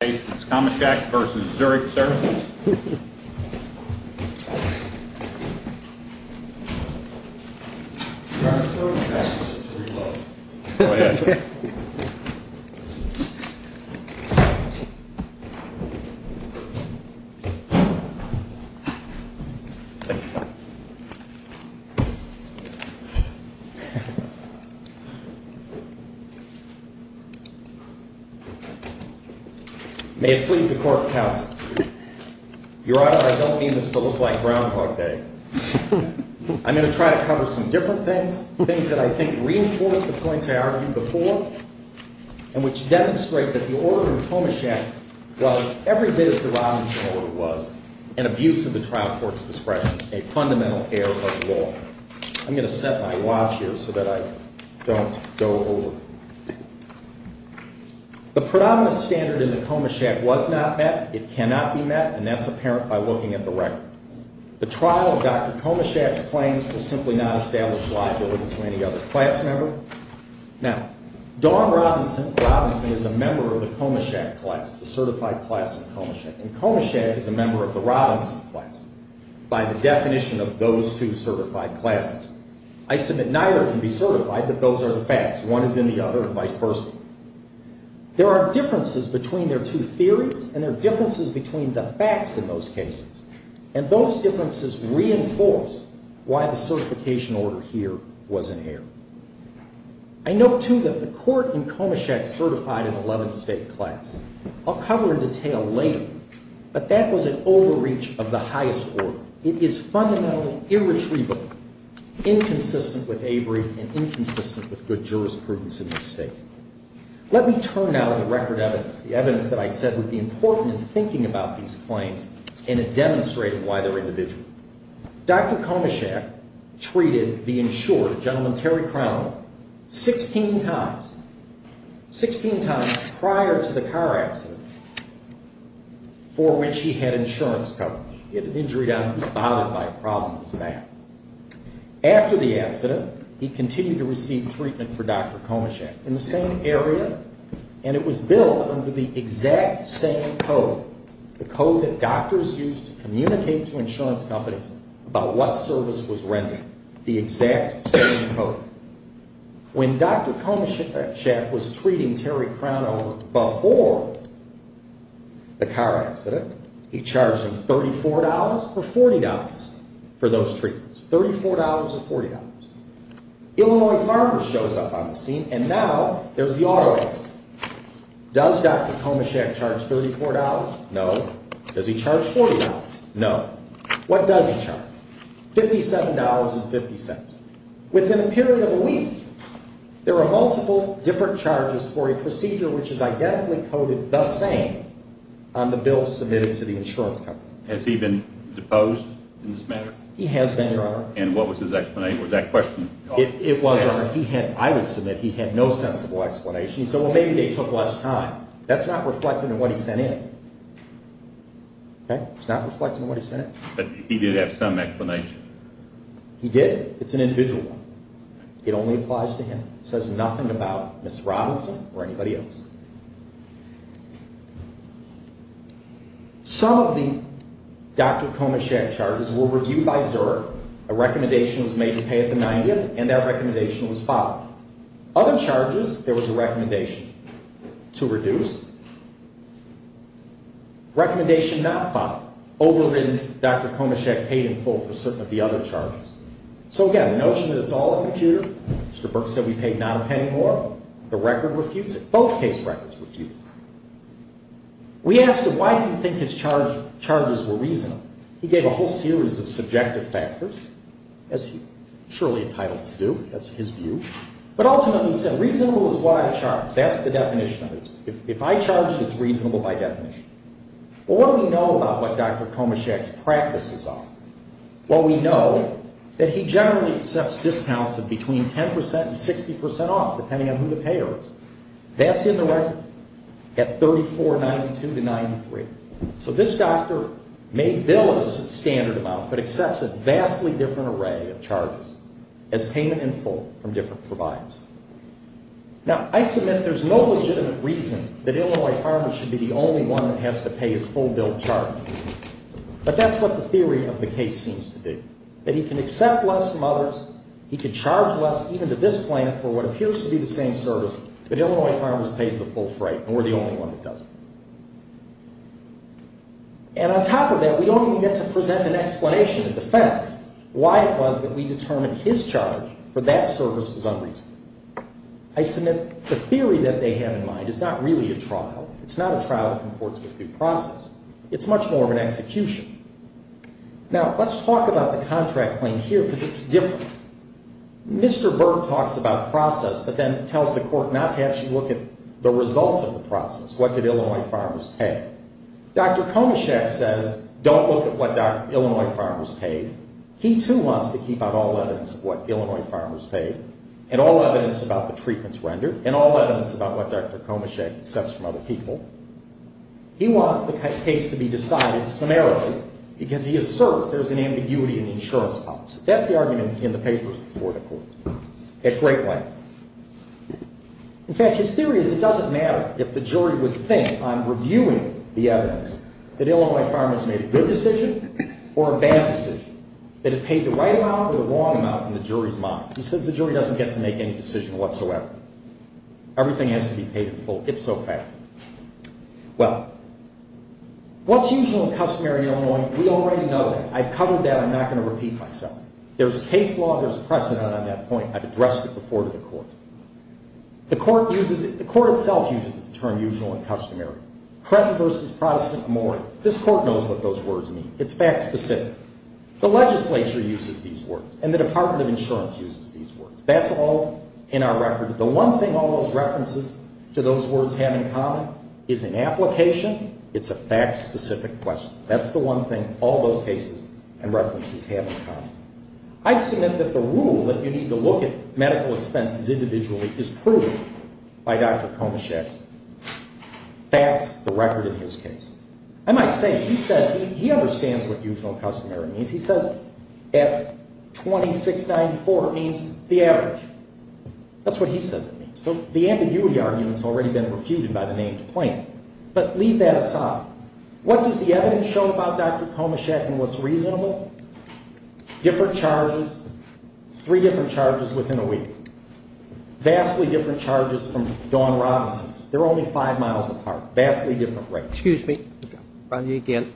Comeshak v. Zurich Services May it please the Court of Counsel, Your Honor, I don't mean this to look like Groundhog Day. I'm going to try to cover some different things, things that I think reinforce the points I argued before, and which demonstrate that the order of Comeshak was every bit as the Robinson order was, an abuse of the trial court's discretion, a fundamental error of law. I'm going to set my watch here so that I don't go over. The predominant standard in the Comeshak was not met, it cannot be met, and that's apparent by looking at the record. The trial of Dr. Comeshak's claims was simply not established liability to any other class member. Now, Dawn Robinson is a member of the Comeshak class, the certified class of Comeshak, and Comeshak is a member of the Robinson class by the definition of those two certified classes. I submit neither can be certified, but those are the facts. One is in the other, and vice versa. There are differences between their two theories, and there are differences between the facts in those cases, and those differences reinforce why the certification order here wasn't here. I note, too, that the court in Comeshak certified an 11th state class. I'll cover in detail later, but that was an overreach of the highest order. It is fundamentally irretrievable, inconsistent with Avery and inconsistent with good jurisprudence in this state. Let me turn now to the record evidence, the evidence that I said would be important in thinking about these claims and in demonstrating why they're individual. Dr. Comeshak treated the insured, a gentleman, Terry Crown, 16 times, 16 times prior to the car accident for which he had insurance coverage. He had an injury down, he was bothered by a problem, he was mad. After the accident, he continued to receive treatment for Dr. Comeshak in the same area, and it was billed under the exact same code, the code that doctors use to communicate to insurance companies about what service was rendered, the exact same code. When Dr. Comeshak was treating Terry Crown before the car accident, he charged him $34 or $40 for those treatments, $34 or $40. Illinois Farmers shows up on the scene, and now there's the auto accident. Does Dr. Comeshak charge $34? No. Does he charge $40? No. What does he charge? $57.50. Within a period of a week, there are multiple different charges for a procedure which is identically coded the same on the bill submitted to the insurance company. Has he been deposed in this matter? He has been, Your Honor. And what was his explanation? Was that a question? It was, Your Honor. He had, I would submit, he had no sensible explanation. He said, well, maybe they took less time. That's not reflected in what he sent in. Okay? It's not reflected in what he sent in. But he did have some explanation. He did? It's an individual one. It only applies to him. It says nothing about Ms. Robinson or anybody else. Some of the Dr. Comeshak charges were reviewed by Zurich. A recommendation was made to pay at the 90th, and that recommendation was followed. Other charges, there was a recommendation to reduce. Recommendation not followed. Overridden, Dr. Comeshak paid in full for certain of the other charges. So, again, the notion that it's all a computer. Mr. Burke said we paid not a penny more. The record refutes it. Both case records refute it. We asked him, why do you think his charges were reasonable? He gave a whole series of subjective factors, as he's surely entitled to do. That's his view. But ultimately he said, reasonable is what I charge. That's the definition of it. If I charge it, it's reasonable by definition. Well, what do we know about what Dr. Comeshak's practices are? Well, we know that he generally accepts discounts of between 10 percent and 60 percent off, depending on who the payer is. That's in the record, at $34.92 to $93. So this doctor may bill a standard amount, but accepts a vastly different array of charges as payment in full from different providers. Now, I submit there's no legitimate reason that Illinois Farmers should be the only one that has to pay his full bill of charges. But that's what the theory of the case seems to be, that he can accept less from others, he can charge less even to this plan for what appears to be the same service, but Illinois Farmers pays the full freight, and we're the only one that doesn't. And on top of that, we don't even get to present an explanation, a defense, why it was that we determined his charge for that service was unreasonable. I submit the theory that they have in mind is not really a trial. It's not a trial that comports with due process. It's much more of an execution. Now, let's talk about the contract claim here, because it's different. Mr. Berg talks about process, but then tells the court not to actually look at the result of the process. What did Illinois Farmers pay? Dr. Komachek says don't look at what Illinois Farmers paid. He, too, wants to keep out all evidence of what Illinois Farmers paid and all evidence about the treatments rendered and all evidence about what Dr. Komachek accepts from other people. He wants the case to be decided summarily because he asserts there's an ambiguity in the insurance policy. That's the argument in the papers before the court at great length. In fact, his theory is it doesn't matter if the jury would think on reviewing the evidence that Illinois Farmers made a good decision or a bad decision, that it paid the right amount or the wrong amount in the jury's mind. He says the jury doesn't get to make any decision whatsoever. Everything has to be paid in full, ipso facto. Well, what's usual and customary in Illinois, we already know that. I've covered that. I'm not going to repeat myself. There's case law. There's precedent on that point. I've addressed it before to the court. The court uses it. The court itself uses the term usual and customary. Precedent versus precedent amore. This court knows what those words mean. It's fact specific. The legislature uses these words, and the Department of Insurance uses these words. That's all in our record. The one thing all those references to those words have in common is an application. It's a fact specific question. That's the one thing all those cases and references have in common. I submit that the rule that you need to look at medical expenses individually is proven by Dr. Komischeck's facts, the record in his case. I might say he says he understands what usual and customary means. He says F2694 means the average. That's what he says it means. So the ambiguity argument has already been refuted by the name to claim. But leave that aside. What does the evidence show about Dr. Komischeck and what's reasonable? Different charges, three different charges within a week. Vastly different charges from Dawn Robinson's. They're only five miles apart. Vastly different rates. Excuse me. Did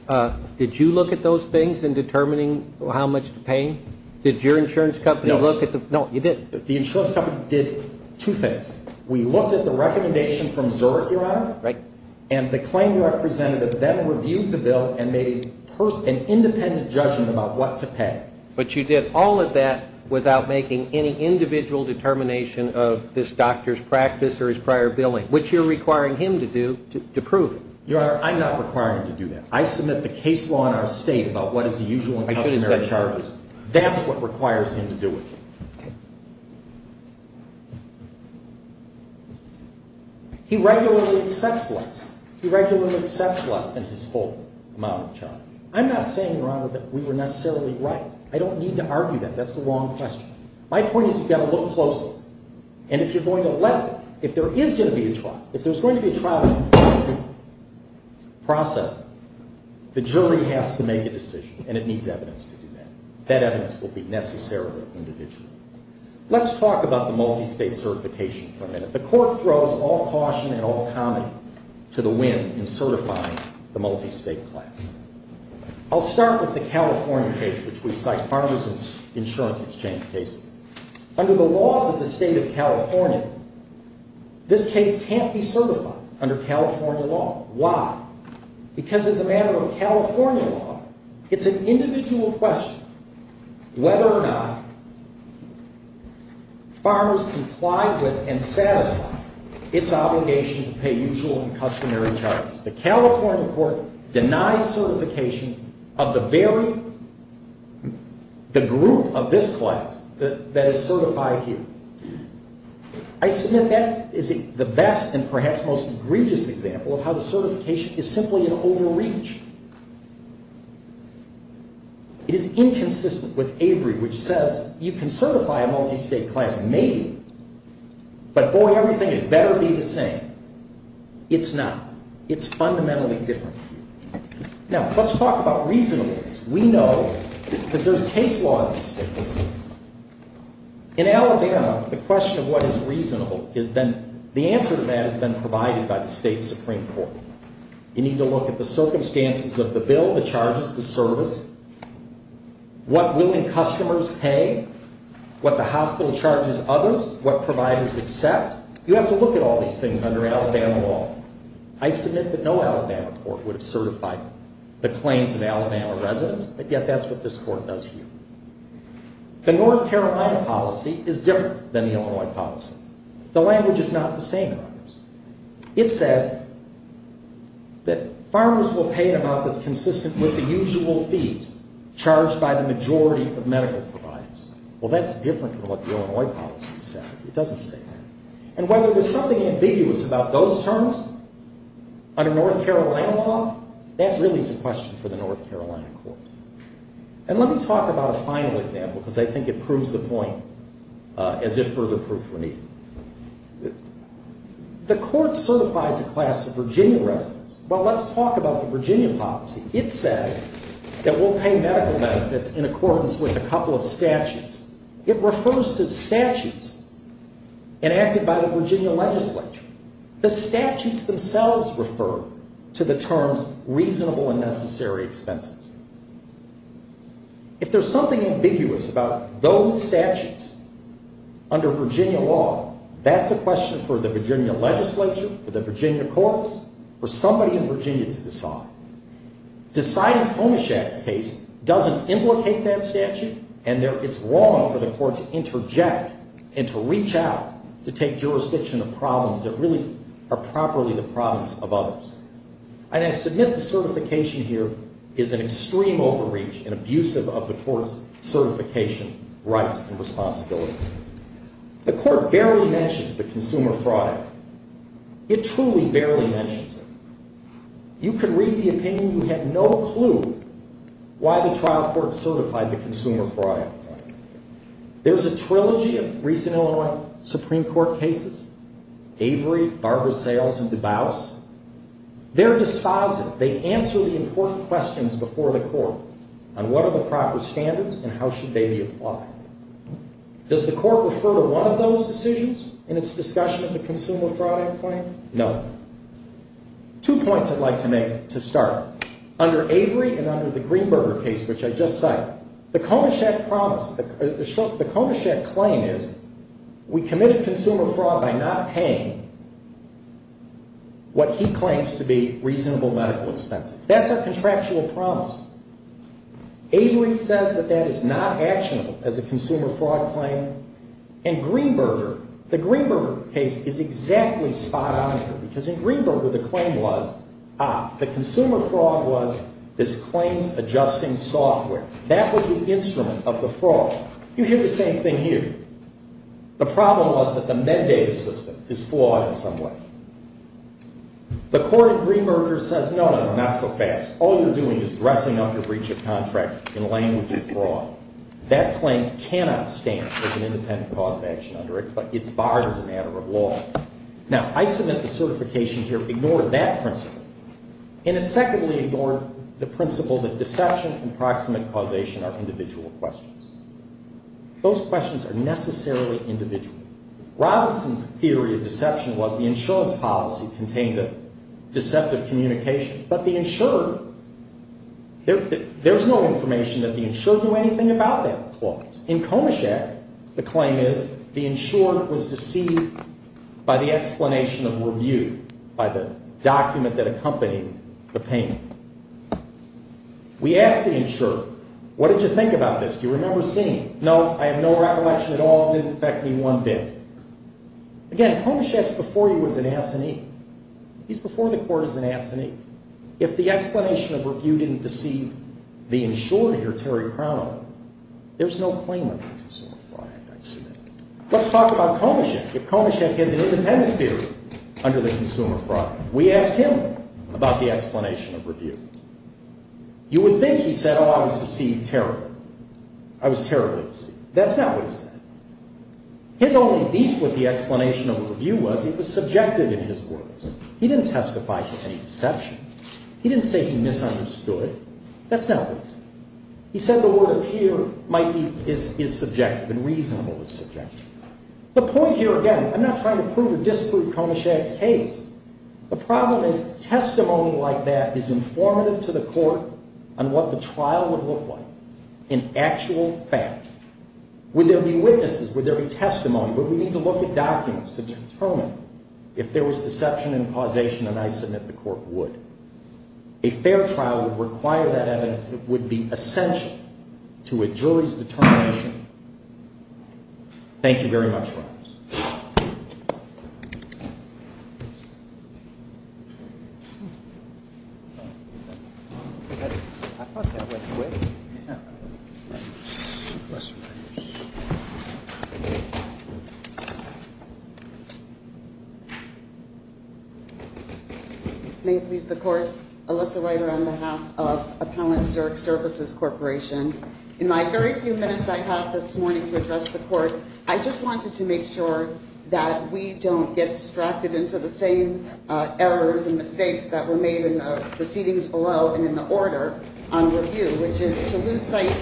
you look at those things in determining how much to pay? Did your insurance company look at the ---- No. No, you didn't. The insurance company did two things. We looked at the recommendation from Zurich, Your Honor, and the claim representative then reviewed the bill and made an independent judgment about what to pay. But you did all of that without making any individual determination of this doctor's practice or his prior billing, which you're requiring him to do to prove it. Your Honor, I'm not requiring him to do that. I submit the case law in our state about what is the usual and customary charges. That's what requires him to do it. Okay. He regularly accepts less. He regularly accepts less than his full amount of charge. I'm not saying, Your Honor, that we were necessarily right. I don't need to argue that. That's the wrong question. My point is you've got to look closely. And if you're going to let it, if there is going to be a trial, if there's going to be a trial process, the jury has to make a decision, and it needs evidence to do that. That evidence will be necessarily individual. Let's talk about the multistate certification for a minute. The Court throws all caution and all comedy to the wind in certifying the multistate class. I'll start with the California case, which we cite, Partners in Insurance Exchange cases. Under the laws of the state of California, this case can't be certified under California law. Why? Because as a matter of California law, it's an individual question whether or not farmers complied with and satisfied its obligation to pay usual and customary charges. The California court denies certification of the group of this class that is certified here. I submit that is the best and perhaps most egregious example of how the certification is simply an overreach. It is inconsistent with Avery, which says you can certify a multistate class, maybe, but for everything it better be the same. It's not. It's fundamentally different. Now, let's talk about reasonableness. We know because there's case law in the states. In Alabama, the question of what is reasonable, the answer to that has been provided by the state Supreme Court. You need to look at the circumstances of the bill, the charges, the service, what willing customers pay, what the hospital charges others, what providers accept. You have to look at all these things under Alabama law. I submit that no Alabama court would have certified the claims of Alabama residents, but yet that's what this court does here. The North Carolina policy is different than the Illinois policy. The language is not the same. It says that farmers will pay an amount that's consistent with the usual fees charged by the majority of medical providers. Well, that's different from what the Illinois policy says. It doesn't say that. And whether there's something ambiguous about those terms under North Carolina law, that really is a question for the North Carolina court. And let me talk about a final example because I think it proves the point as if further proof were needed. The court certifies a class of Virginia residents. Well, let's talk about the Virginia policy. It says that we'll pay medical benefits in accordance with a couple of statutes. It refers to statutes enacted by the Virginia legislature. The statutes themselves refer to the terms reasonable and necessary expenses. If there's something ambiguous about those statutes under Virginia law, that's a question for the Virginia legislature, for the Virginia courts, for somebody in Virginia to decide. Deciding Homeshack's case doesn't implicate that statute, and it's wrong for the court to interject and to reach out to take jurisdiction of problems that really are properly the problems of others. And I submit the certification here is an extreme overreach and abusive of the court's certification rights and responsibilities. The court barely mentions the consumer fraud act. It truly barely mentions it. You can read the opinion. You have no clue why the trial court certified the consumer fraud act. There's a trilogy of recent Illinois Supreme Court cases, Avery, Barber Sales, and DuBose. They're dispositive. They answer the important questions before the court on what are the proper standards and how should they be applied. Does the court refer to one of those decisions in its discussion of the consumer fraud act claim? No. Two points I'd like to make to start. Under Avery and under the Greenberger case, which I just cited, the Homeshack claim is we committed consumer fraud by not paying what he claims to be reasonable medical expenses. That's a contractual promise. Avery says that that is not actionable as a consumer fraud claim. And Greenberger, the Greenberger case is exactly spot on here because in Greenberger the claim was, ah, the consumer fraud was this claim's adjusting software. That was the instrument of the fraud. You hear the same thing here. The problem was that the MedData system is flawed in some way. The court in Greenberger says, no, no, not so fast. All you're doing is dressing up your breach of contract in language of fraud. That claim cannot stand as an independent cause of action under it, but it's barred as a matter of law. Now, I submit the certification here ignored that principle. And it secondly ignored the principle that deception and proximate causation are individual questions. Those questions are necessarily individual. Robinson's theory of deception was the insurance policy contained a deceptive communication. But the insurer, there's no information that the insurer knew anything about that clause. In Komischeck, the claim is the insurer was deceived by the explanation of review, by the document that accompanied the payment. We asked the insurer, what did you think about this? Do you remember seeing it? No, I have no recollection at all. It didn't affect me one bit. Again, Komischeck's before you as an assinee. He's before the court as an assinee. If the explanation of review didn't deceive the insurer here, Terry Crown, there's no claim under the Consumer Fraud Act, I submit. Let's talk about Komischeck. If Komischeck has an independent theory under the Consumer Fraud Act, we asked him about the explanation of review. You would think he said, oh, I was deceived terribly. I was terribly deceived. That's not what he said. His only beef with the explanation of review was he was subjective in his words. He didn't testify to any deception. He didn't say he misunderstood. That's not what he said. He said the word appear is subjective and reasonable is subjective. The point here, again, I'm not trying to prove or disprove Komischeck's case. The problem is testimony like that is informative to the court on what the trial would look like in actual fact. Would there be witnesses? Would there be testimony? Would we need to look at documents to determine if there was deception and causation? And I submit the court would. A fair trial would require that evidence that would be essential to a jury's determination. Thank you very much, Roberts. May it please the court. Alyssa Ryder on behalf of Appellant Zurich Services Corporation. In my very few minutes I have this morning to address the court, I just wanted to make sure that we don't get distracted into the same errors and mistakes that were made in the proceedings below and in the order on review, which is to lose sight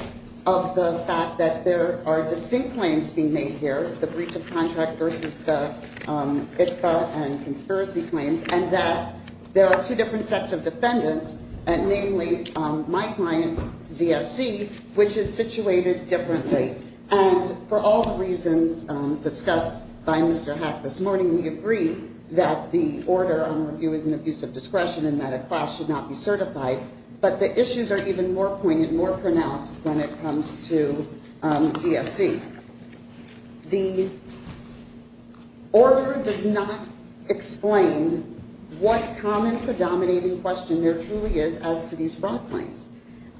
of the fact that there are distinct claims being made here, the breach of contract versus the IFPA and conspiracy claims, and that there are two different sets of defendants, namely my client ZSC, which is situated differently. And for all the reasons discussed by Mr. Hack this morning, we agree that the order on review is an abuse of discretion and that a class should not be certified, but the issues are even more pointed, more pronounced when it comes to ZSC. The order does not explain what common predominating question there truly is as to these fraud claims.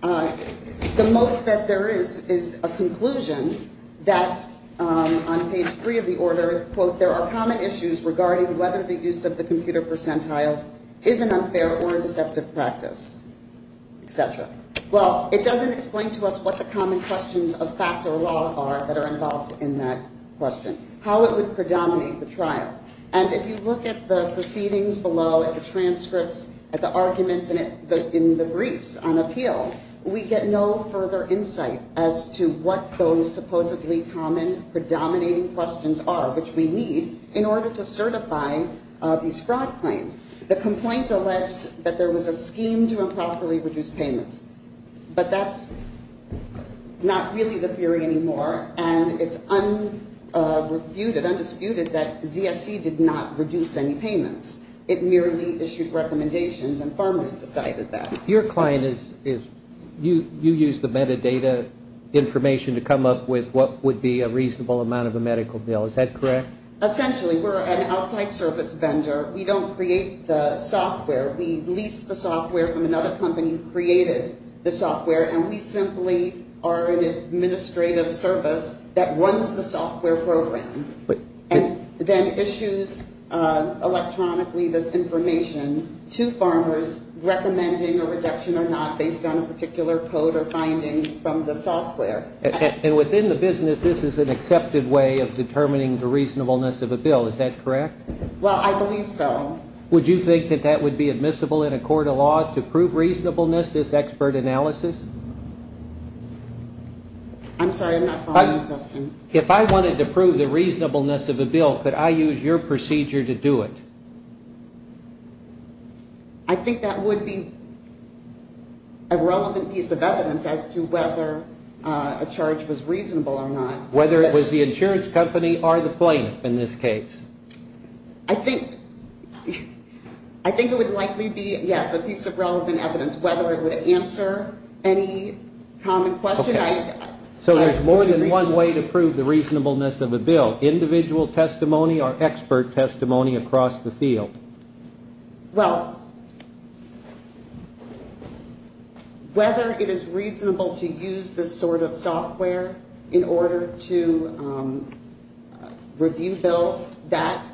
The most that there is is a conclusion that on page three of the order, quote, there are common issues regarding whether the use of the computer percentiles is an unfair or a deceptive practice, et cetera. Well, it doesn't explain to us what the common questions of fact or law are that are involved in that question, how it would predominate the trial. And if you look at the proceedings below, at the transcripts, at the arguments in the briefs on appeal, we get no further insight as to what those supposedly common predominating questions are, which we need in order to certify these fraud claims. The complaint alleged that there was a scheme to improperly reduce payments, but that's not really the theory anymore, and it's undisputed that ZSC did not reduce any payments. It merely issued recommendations and farmers decided that. Your client is you use the metadata information to come up with what would be a reasonable amount of a medical bill. Is that correct? Essentially. We're an outside service vendor. We don't create the software. We lease the software from another company who created the software, and we simply are an administrative service that runs the software program and then issues electronically this information to farmers recommending a reduction or not based on a particular code or finding from the software. And within the business, this is an accepted way of determining the reasonableness of a bill. Is that correct? Well, I believe so. Would you think that that would be admissible in a court of law to prove reasonableness, this expert analysis? I'm sorry, I'm not following your question. If I wanted to prove the reasonableness of a bill, could I use your procedure to do it? I think that would be a relevant piece of evidence as to whether a charge was reasonable or not. Whether it was the insurance company or the plaintiff in this case? I think it would likely be, yes, a piece of relevant evidence, whether it would answer any common question. So there's more than one way to prove the reasonableness of a bill, individual testimony or expert testimony across the field? Well, whether it is reasonable to use this sort of software in order to review bills, that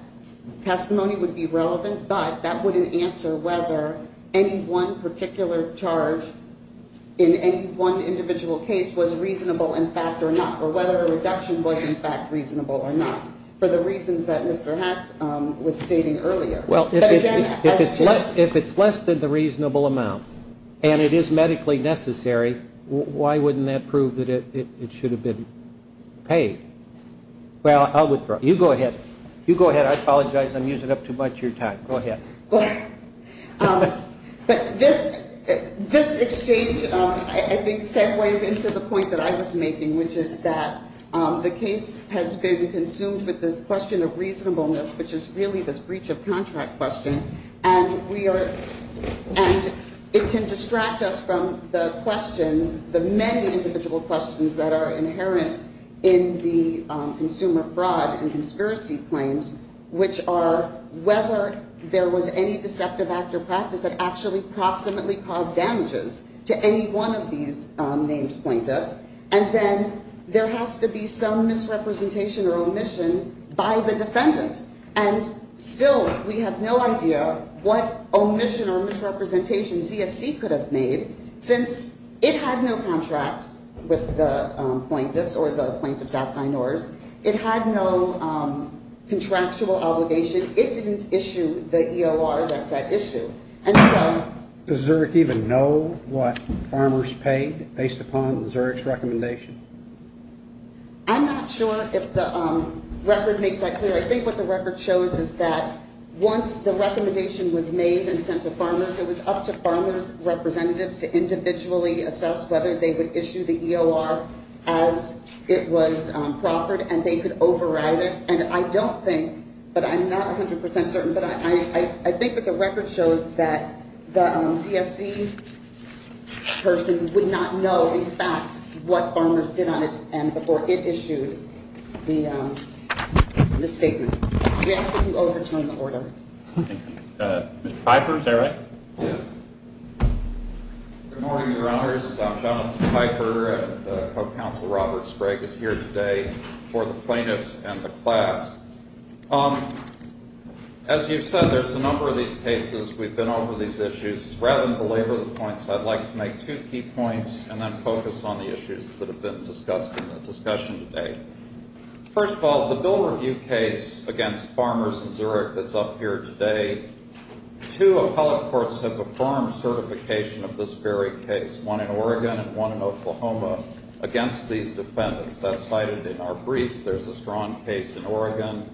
testimony would be relevant, but that wouldn't answer whether any one particular charge in any one individual case was reasonable in fact or not, or whether a reduction was in fact reasonable or not, for the reasons that Mr. Heck was stating earlier. Well, if it's less than the reasonable amount and it is medically necessary, why wouldn't that prove that it should have been paid? Well, I'll withdraw. You go ahead. You go ahead. I apologize. I'm using up too much of your time. Go ahead. But this exchange, I think, segues into the point that I was making, which is that the case has been consumed with this question of reasonableness, which is really this breach of contract question, and it can distract us from the questions, the many individual questions that are inherent in the consumer fraud and conspiracy claims, which are whether there was any deceptive act or practice that actually proximately caused damages to any one of these named plaintiffs, and then there has to be some misrepresentation or omission by the defendant. And still we have no idea what omission or misrepresentation ZSC could have made, since it had no contract with the plaintiffs or the plaintiff's assignors. It had no contractual obligation. It didn't issue the EOR that's at issue. Does Zurich even know what farmers paid based upon Zurich's recommendation? I'm not sure if the record makes that clear. I think what the record shows is that once the recommendation was made and sent to farmers, it was up to farmers' representatives to individually assess whether they would issue the EOR as it was proffered, and they could override it. And I don't think, but I'm not 100% certain, but I think that the record shows that the ZSC person would not know, in fact, what farmers did on its end before it issued the statement. We ask that you overturn the order. Mr. Piper, is that right? Yes. Good morning, Your Honors. I'm Jonathan Piper, and Co-Counsel Robert Sprague is here today for the plaintiffs and the class. As you've said, there's a number of these cases. We've been over these issues. Rather than belabor the points, I'd like to make two key points and then focus on the issues that have been discussed in the discussion today. First of all, the bill review case against farmers in Zurich that's up here today, two appellate courts have affirmed certification of this very case, one in Oregon and one in Oklahoma, against these defendants. That's cited in our briefs. There's a strong case in Oregon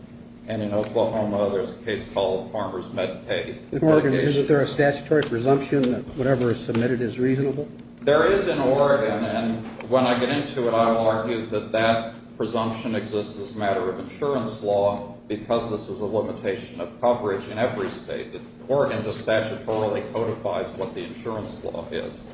and in Oklahoma. There's a case called Farmers Med Pay. In Oregon, isn't there a statutory presumption that whatever is submitted is reasonable? There is in Oregon, and when I get into it, I will argue that that presumption exists as a matter of insurance law because this is a limitation of coverage in every state. Oregon just statutorily codifies what the insurance law is.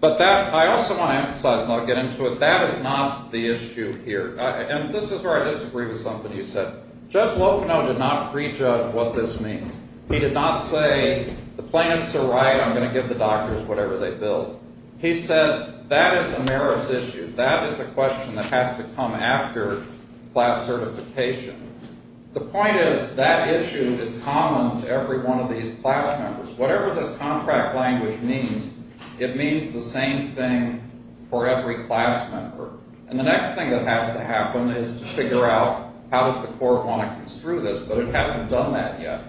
But that, I also want to emphasize, and I'll get into it, that is not the issue here. And this is where I disagree with something you said. Judge Locono did not prejudge what this means. He did not say the plaintiffs are right, I'm going to give the doctors whatever they bill. He said that is a marriage issue. That is a question that has to come after class certification. The point is that issue is common to every one of these class members. Whatever this contract language means, it means the same thing for every class member. And the next thing that has to happen is to figure out how does the court want to construe this, but it hasn't done that yet.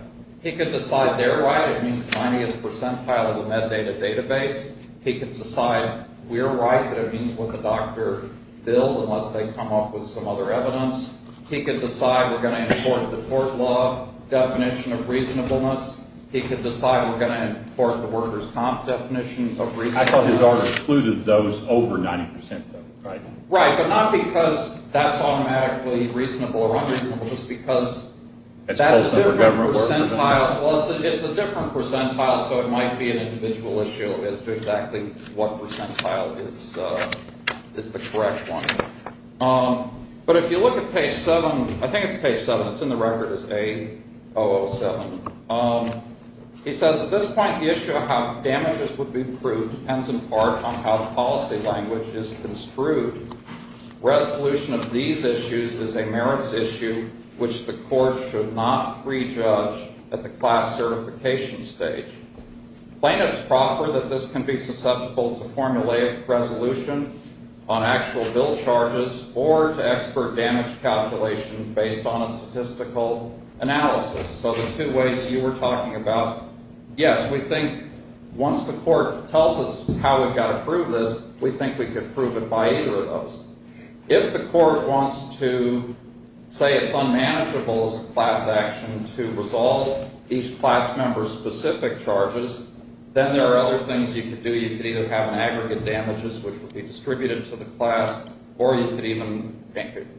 He could decide they're right, it means the 90th percentile of the MedData database. He could decide we're right, but it means what the doctor billed, unless they come up with some other evidence. He could decide we're going to import the court law definition of reasonableness. He could decide we're going to import the workers' comp definition of reasonableness. I thought his argument included those over 90%, though, right? Right, but not because that's automatically reasonable or unreasonable, just because that's a different percentile. It's a different percentile, so it might be an individual issue as to exactly what percentile is the correct one. But if you look at page 7, I think it's page 7, it's in the record, it's A007. He says, at this point, the issue of how damages would be approved depends in part on how the policy language is construed. Resolution of these issues is a merits issue which the court should not prejudge at the class certification stage. Plaintiffs proffer that this can be susceptible to formulaic resolution on actual bill charges or to expert damage calculation based on a statistical analysis. So the two ways you were talking about, yes, we think once the court tells us how we've got to prove this, we think we could prove it by either of those. If the court wants to say it's unmanageable as a class action to resolve each class member's specific charges, then there are other things you could do. You could either have an aggregate damages, which would be distributed to the class, or you could even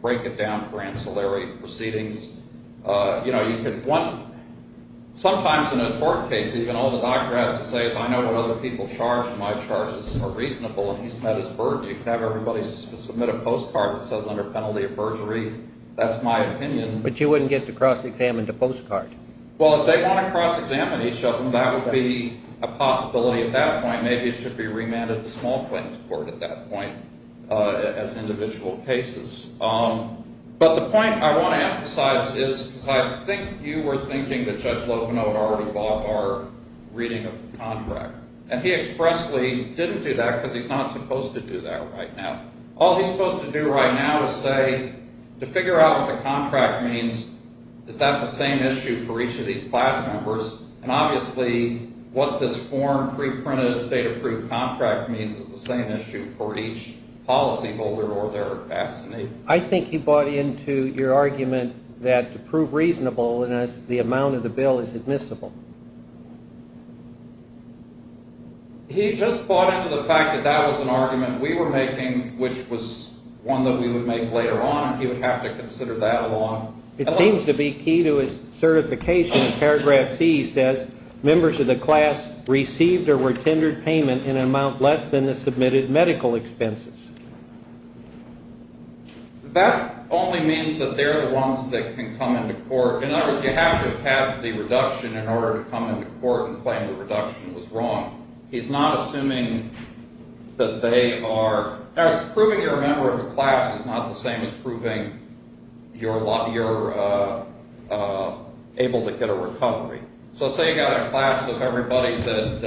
break it down for ancillary proceedings. You know, you could want – sometimes in a tort case, even, all the doctor has to say is, I know what other people charge and my charges are reasonable. He's met his burden. You could have everybody submit a postcard that says under penalty of perjury, that's my opinion. But you wouldn't get to cross-examine the postcard. Well, if they want to cross-examine each other, that would be a possibility at that point. Maybe it should be remanded to small claims court at that point as individual cases. But the point I want to emphasize is because I think you were thinking that Judge Locono had already bought our reading of the contract. And he expressly didn't do that because he's not supposed to do that right now. All he's supposed to do right now is say, to figure out what the contract means, is that the same issue for each of these class members? And obviously, what this form, pre-printed, state-approved contract means is the same issue for each policyholder or their assignee. I think he bought into your argument that to prove reasonable, the amount of the bill is admissible. He just bought into the fact that that was an argument we were making, which was one that we would make later on. He would have to consider that along. It seems to be key to his certification. Paragraph C says, members of the class received or were tendered payment in an amount less than the submitted medical expenses. That only means that they're the ones that can come into court. In other words, you have to have the reduction in order to come into court and claim the reduction was wrong. He's not assuming that they are – proving you're a member of a class is not the same as proving you're able to get a recovery. So say you've got a class of everybody that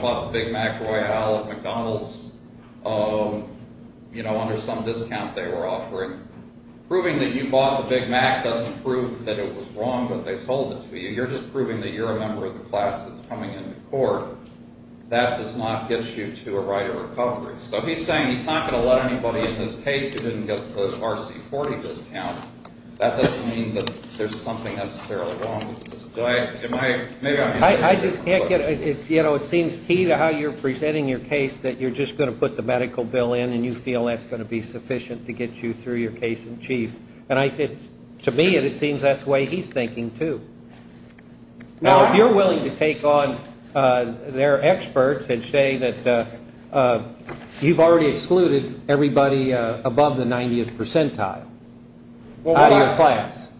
bought the Big Mac Royale at McDonald's under some discount they were offering. Proving that you bought the Big Mac doesn't prove that it was wrong, but they sold it to you. You're just proving that you're a member of the class that's coming into court. That does not get you to a right of recovery. So he's saying he's not going to let anybody in his case who didn't get a close RC40 discount. That doesn't mean that there's something necessarily wrong with this. Do I – am I – maybe I'm – I just can't get – you know, it seems key to how you're presenting your case that you're just going to put the medical bill in and you feel that's going to be sufficient to get you through your case in chief. And I think – to me it seems that's the way he's thinking too. Now, if you're willing to take on their experts and say that you've already excluded everybody above the 90th percentile out of your class.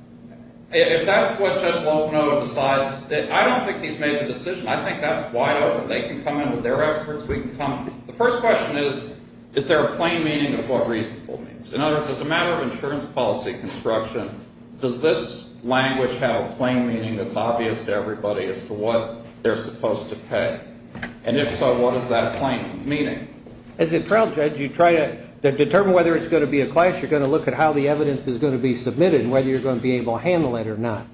If that's what Judge Locono decides, I don't think he's made the decision. I think that's wide open. They can come in with their experts. We can come – the first question is, is there a plain meaning of what reasonable means? In other words, as a matter of insurance policy construction, does this language have a plain meaning that's obvious to everybody as to what they're supposed to pay? And if so, what is that plain meaning? As a trial judge, you try to determine whether it's going to be a class. You're going to look at how the evidence is going to be submitted and whether you're going to be able to handle it or not.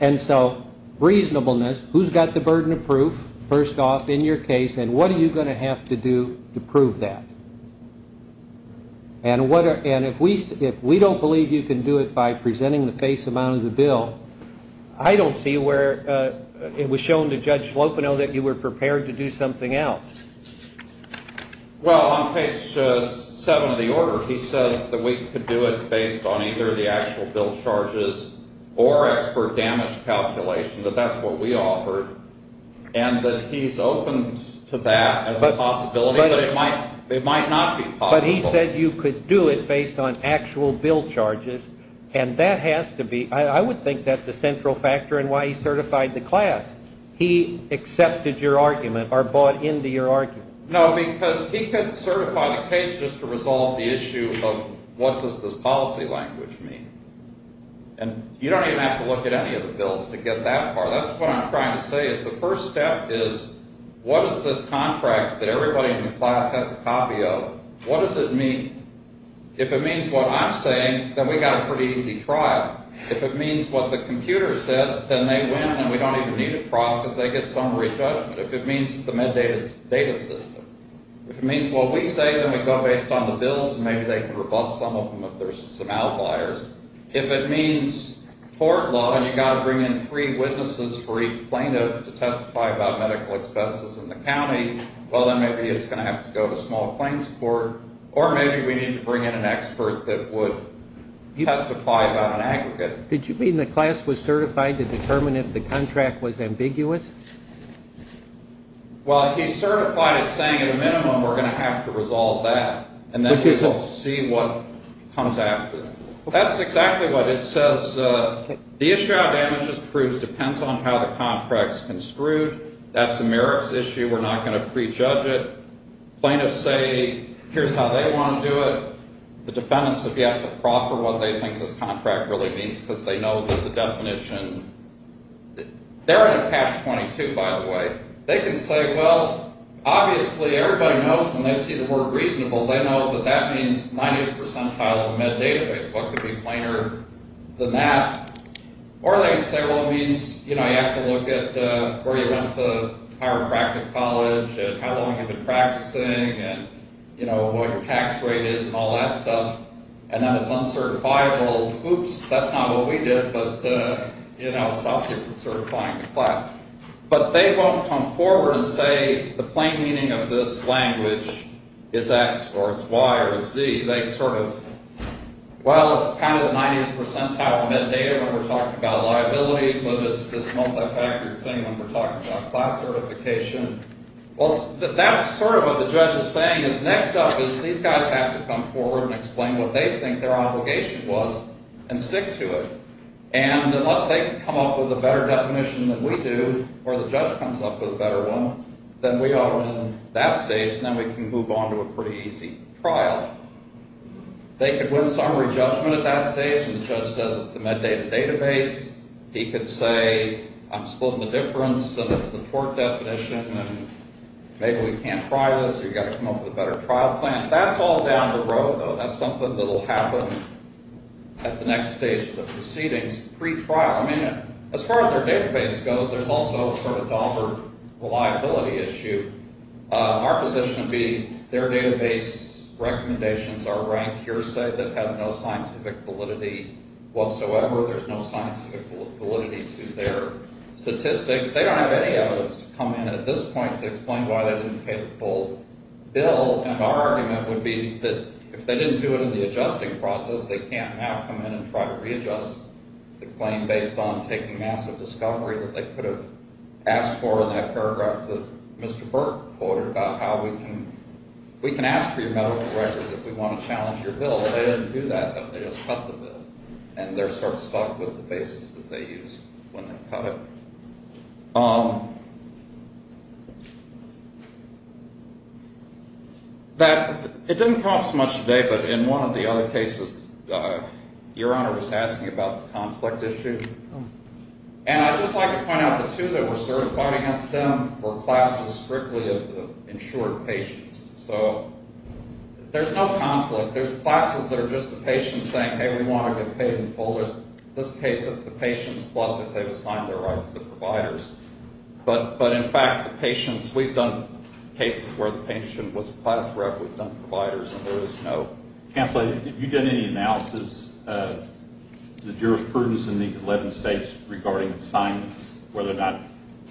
And so reasonableness, who's got the burden of proof first off in your case, and what are you going to have to do to prove that? And if we don't believe you can do it by presenting the face amount of the bill, I don't see where it was shown to Judge Locono that you were prepared to do something else. Well, on page 7 of the order, he says that we could do it based on either the actual bill charges or expert damage calculation, that that's what we offered, and that he's open to that as a possibility, but it might not be possible. But he said you could do it based on actual bill charges, and that has to be – I would think that's a central factor in why he certified the class. He accepted your argument or bought into your argument. No, because he could certify the case just to resolve the issue of what does this policy language mean. And you don't even have to look at any of the bills to get that far. That's what I'm trying to say is the first step is what does this contract that everybody in the class has a copy of, what does it mean? If it means what I'm saying, then we've got a pretty easy trial. If it means what the computer said, then they win and we don't even need a trial because they get summary judgment. If it means the mandated data system. If it means what we say, then we go based on the bills, and maybe they can rebuff some of them if there's some outliers. If it means court law and you've got to bring in three witnesses for each plaintiff to testify about medical expenses in the county, well, then maybe it's going to have to go to small claims court, or maybe we need to bring in an expert that would testify about an aggregate. Did you mean the class was certified to determine if the contract was ambiguous? Well, he certified it saying at a minimum we're going to have to resolve that and then see what comes after. That's exactly what it says. The issue how damage is proved depends on how the contract is construed. That's a merits issue. We're not going to prejudge it. Plaintiffs say here's how they want to do it. The defendants have yet to proffer what they think this contract really means because they know the definition. They're in a past 22, by the way. They can say, well, obviously everybody knows when they see the word reasonable, they know that that means 90th percentile of a med database. What could be plainer than that? Or they can say, well, it means you have to look at where you went to chiropractic college and how long you've been practicing and what your tax rate is and all that stuff, and then it's uncertifiable. Oops, that's not what we did, but it stops you from certifying the class. But they won't come forward and say the plain meaning of this language is X or it's Y or it's Z. They sort of, well, it's kind of the 90th percentile of a med data when we're talking about liability, but it's this multi-factor thing when we're talking about class certification. Well, that's sort of what the judge is saying is next up is these guys have to come forward and explain what they think their obligation was and stick to it. And unless they can come up with a better definition than we do or the judge comes up with a better one, then we ought to win that stage and then we can move on to a pretty easy trial. They could win summary judgment at that stage and the judge says it's the med data database. He could say I'm splitting the difference and it's the tort definition and maybe we can't try this or you've got to come up with a better trial plan. That's all down the road, though. That's something that will happen at the next stage of the proceedings pre-trial. I mean, as far as their database goes, there's also a sort of dollar liability issue. Our position would be their database recommendations are rank hearsay that has no scientific validity whatsoever. There's no scientific validity to their statistics. They don't have any evidence to come in at this point to explain why they didn't pay the full bill. And our argument would be that if they didn't do it in the adjusting process, they can't now come in and try to readjust the claim based on taking massive discovery that they could have asked for in that paragraph that Mr. Burke quoted about how we can ask for your medical records if we want to challenge your bill. If they didn't do that, then they just cut the bill and they're sort of stuck with the basis that they used when they cut it. It didn't cost much today, but in one of the other cases, Your Honor was asking about the conflict issue. And I'd just like to point out the two that were certified against them were classes strictly of insured patients. So there's no conflict. There's classes that are just the patients saying, hey, we want to get paid in full. In this case, it's the patients plus if they've assigned their rights to the providers. But in fact, the patients, we've done cases where the patient was class rep. We've done providers, and there is no conflict. Have you done any analysis of the jurisprudence in these 11 states regarding assignments, whether or not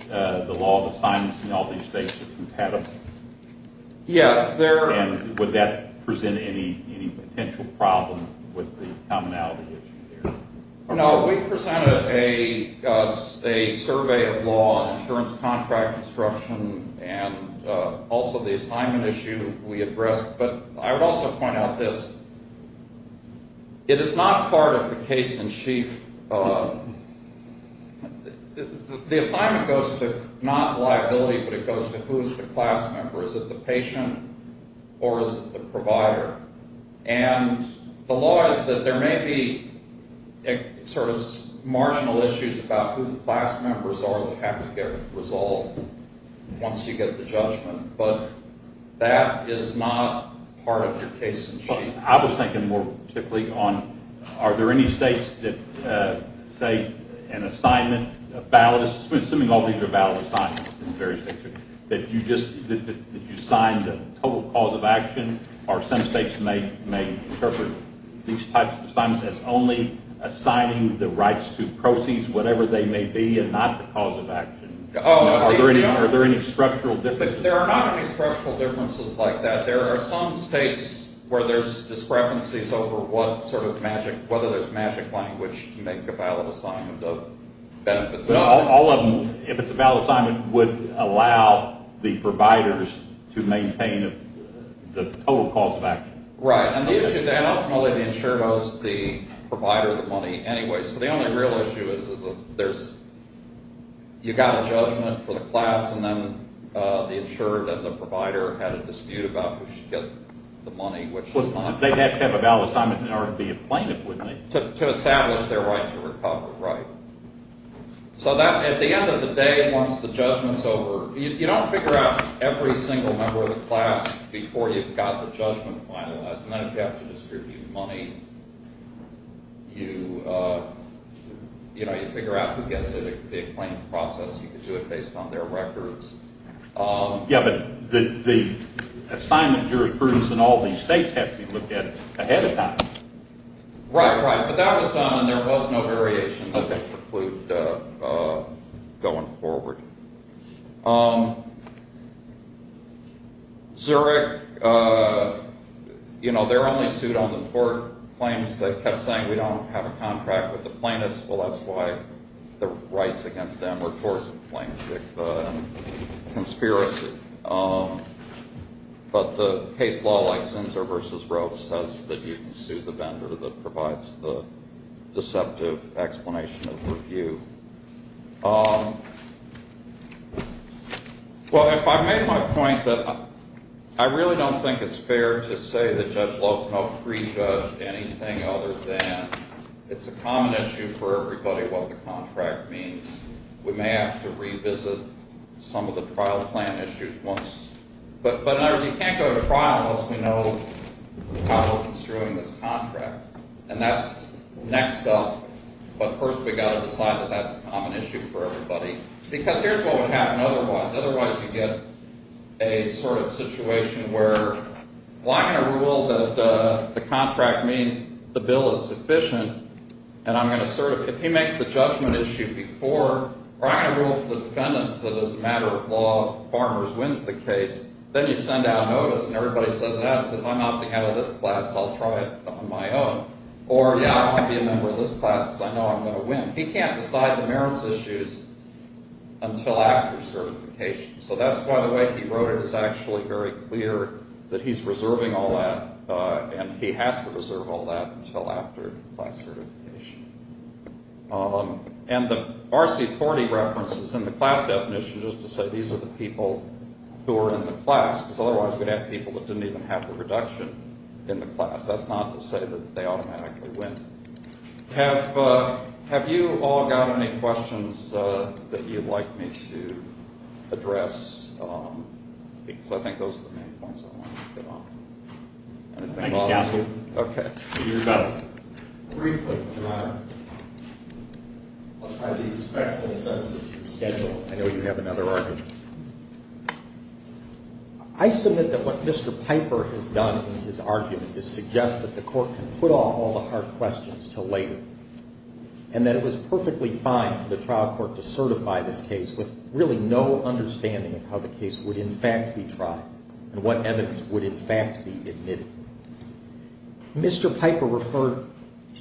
the law of assignments in all these states is compatible? Yes. And would that present any potential problem with the commonality issue there? No. We presented a survey of law and insurance contract instruction and also the assignment issue we addressed. But I would also point out this. It is not part of the case in chief. The assignment goes to not liability, but it goes to who is the class member. Is it the patient or is it the provider? And the law is that there may be sort of marginal issues about who the class members are that have to get resolved once you get the judgment. But that is not part of your case in chief. I was thinking more particularly on are there any states that say an assignment, assuming all these are valid assignments in various states, that you just assign the total cause of action, or some states may interpret these types of assignments as only assigning the rights to proceeds, whatever they may be, and not the cause of action. Are there any structural differences? There are not any structural differences like that. There are some states where there's discrepancies over what sort of magic, which make a valid assignment of benefits. All of them, if it's a valid assignment, would allow the providers to maintain the total cause of action. Right. And ultimately the insurer owes the provider the money anyway. So the only real issue is you got a judgment for the class, and then the insurer and the provider had a dispute about who should get the money. They'd have to have a valid assignment in order to be a plaintiff, wouldn't they? To establish their right to recover. Right. So at the end of the day, once the judgment's over, you don't figure out every single member of the class before you've got the judgment finalized. And then if you have to distribute money, you figure out who gets it, the acclaimed process. You can do it based on their records. Yeah, but the assignment jurisprudence in all these states have to be looked at ahead of time. Right, right. But that was done and there was no variation that precluded going forward. Zurich, you know, they're only sued on the tort claims. They kept saying, we don't have a contract with the plaintiffs. Well, that's why the rights against them were tort claims and conspiracy. But the case law, like Zinsser v. Rose, says that you can sue the vendor that provides the deceptive explanation of review. Well, if I made my point that I really don't think it's fair to say that Judge Locomo pre-judged anything other than it's a common issue for everybody what the contract means. We may have to revisit some of the trial plan issues once. But in other words, you can't go to trial unless we know how we're construing this contract. And that's next up. But first, we've got to decide that that's a common issue for everybody. Because here's what would happen otherwise. Otherwise, you get a sort of situation where I'm going to rule that the contract means the bill is sufficient. And I'm going to sort of, if he makes the judgment issue before, or I'm going to rule for the defendants that as a matter of law, Farmers wins the case. Then you send out a notice, and everybody sends it out and says, I'm not the head of this class, so I'll try it on my own. Or, yeah, I want to be a member of this class because I know I'm going to win. He can't decide the merits issues until after certification. So that's why the way he wrote it is actually very clear that he's reserving all that. And he has to reserve all that until after class certification. And the RC40 references in the class definition is to say these are the people who are in the class. Because otherwise, we'd have people that didn't even have the reduction in the class. That's not to say that they automatically win. Have you all got any questions that you'd like me to address? Because I think those are the main points I want to get on. Anything at all? Yes. Okay. Briefly, Your Honor, I'll try to be respectful and sensitive to the schedule. I know you have another argument. I submit that what Mr. Piper has done in his argument is suggest that the court can put off all the hard questions until later. And that it was perfectly fine for the trial court to certify this case with really no understanding of how the case would in fact be tried and what evidence would in fact be admitted. Mr. Piper referred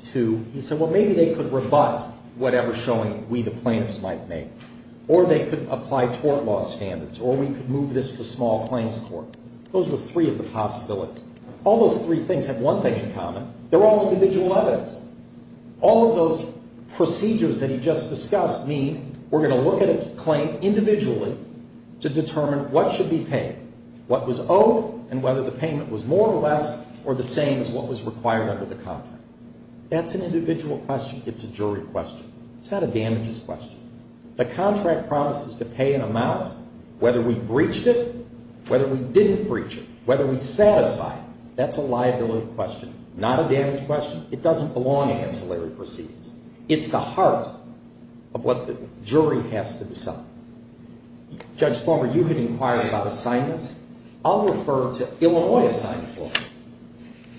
to, he said, well, maybe they could rebut whatever showing we the plaintiffs might make. Or they could apply tort law standards. Or we could move this to small claims court. Those were three of the possibilities. All those three things have one thing in common. They're all individual evidence. All of those procedures that he just discussed mean we're going to look at a claim individually to determine what should be paid, what was owed and whether the payment was more or less or the same as what was required under the contract. That's an individual question. It's a jury question. It's not a damages question. The contract promises to pay an amount whether we breached it, whether we didn't breach it, whether we satisfy it. That's a liability question, not a damage question. It doesn't belong in ancillary proceedings. It's the heart of what the jury has to decide. Judge Thormer, you can inquire about assignments. I'll refer to Illinois assignment law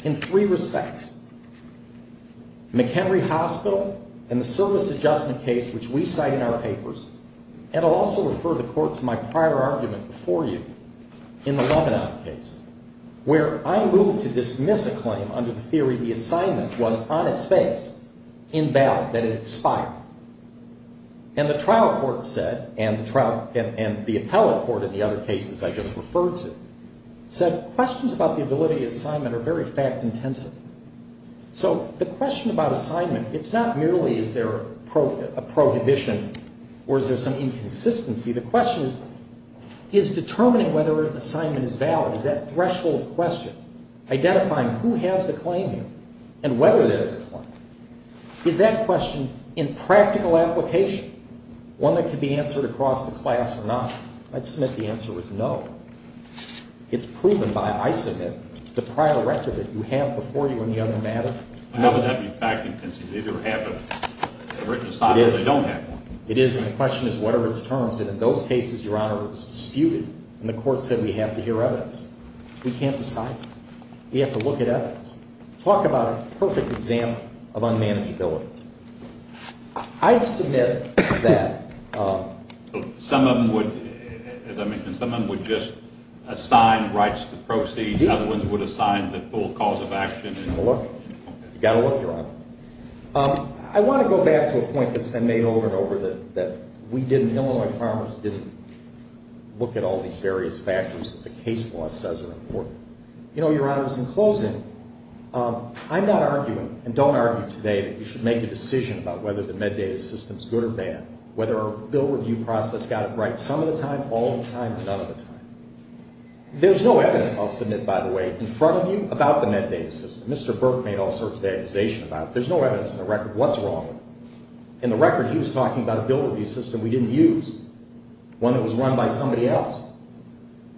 in three respects. McHenry Hospital and the service adjustment case which we cite in our papers. And I'll also refer the court to my prior argument before you in the Lebanon case where I moved to dismiss a claim under the theory the assignment was on its face, invalid, that it expired. And the trial court said and the appellate court in the other cases I just referred to said questions about the ability of assignment are very fact-intensive. So the question about assignment, it's not merely is there a prohibition or is there some inconsistency. The question is determining whether an assignment is valid. Is that threshold question, identifying who has the claim here and whether there is a claim. Is that question in practical application, one that could be answered across the class or not? I'd submit the answer is no. It's proven by, I submit, the prior record that you have before you in the other matter. It doesn't have to be fact-intensive. They either have a written assignment or they don't have one. It is. And the question is what are its terms? And in those cases, Your Honor, it was disputed and the court said we have to hear evidence. We can't decide that. We have to look at evidence. Talk about a perfect example of unmanageability. I submit that. Some of them would, as I mentioned, some of them would just assign rights to proceeds. Other ones would assign the full cause of action. You've got to look. You've got to look, Your Honor. I want to go back to a point that's been made over and over that we didn't, Illinois Farmers, didn't look at all these various factors that the case law says are important. You know, Your Honor, it was in closing. I'm not arguing and don't argue today that you should make a decision about whether the MedData system is good or bad, whether our bill review process got it right some of the time, all of the time, or none of the time. There's no evidence, I'll submit, by the way, in front of you about the MedData system. Mr. Burke made all sorts of accusations about it. There's no evidence in the record what's wrong with it. In the record, he was talking about a bill review system we didn't use, one that was run by somebody else.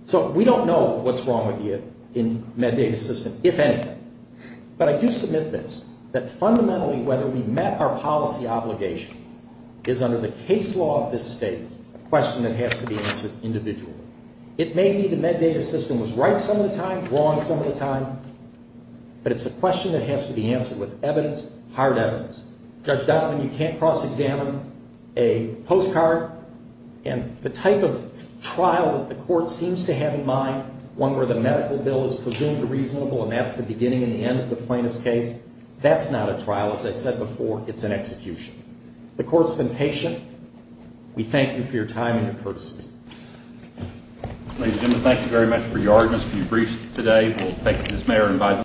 So we don't know what's wrong with it in the MedData system, if anything. But I do submit this, that fundamentally whether we met our policy obligation is under the case law of this State, a question that has to be answered individually. It may be the MedData system was right some of the time, wrong some of the time, but it's a question that has to be answered with evidence, hard evidence. Judge Donovan, you can't cross-examine a postcard. And the type of trial that the Court seems to have in mind, one where the medical bill is presumed reasonable and that's the beginning and the end of the plaintiff's case, that's not a trial. As I said before, it's an execution. The Court's been patient. We thank you for your time and your courtesy. Ladies and gentlemen, thank you very much for your audience and your briefs today. We'll thank Ms. Mayer.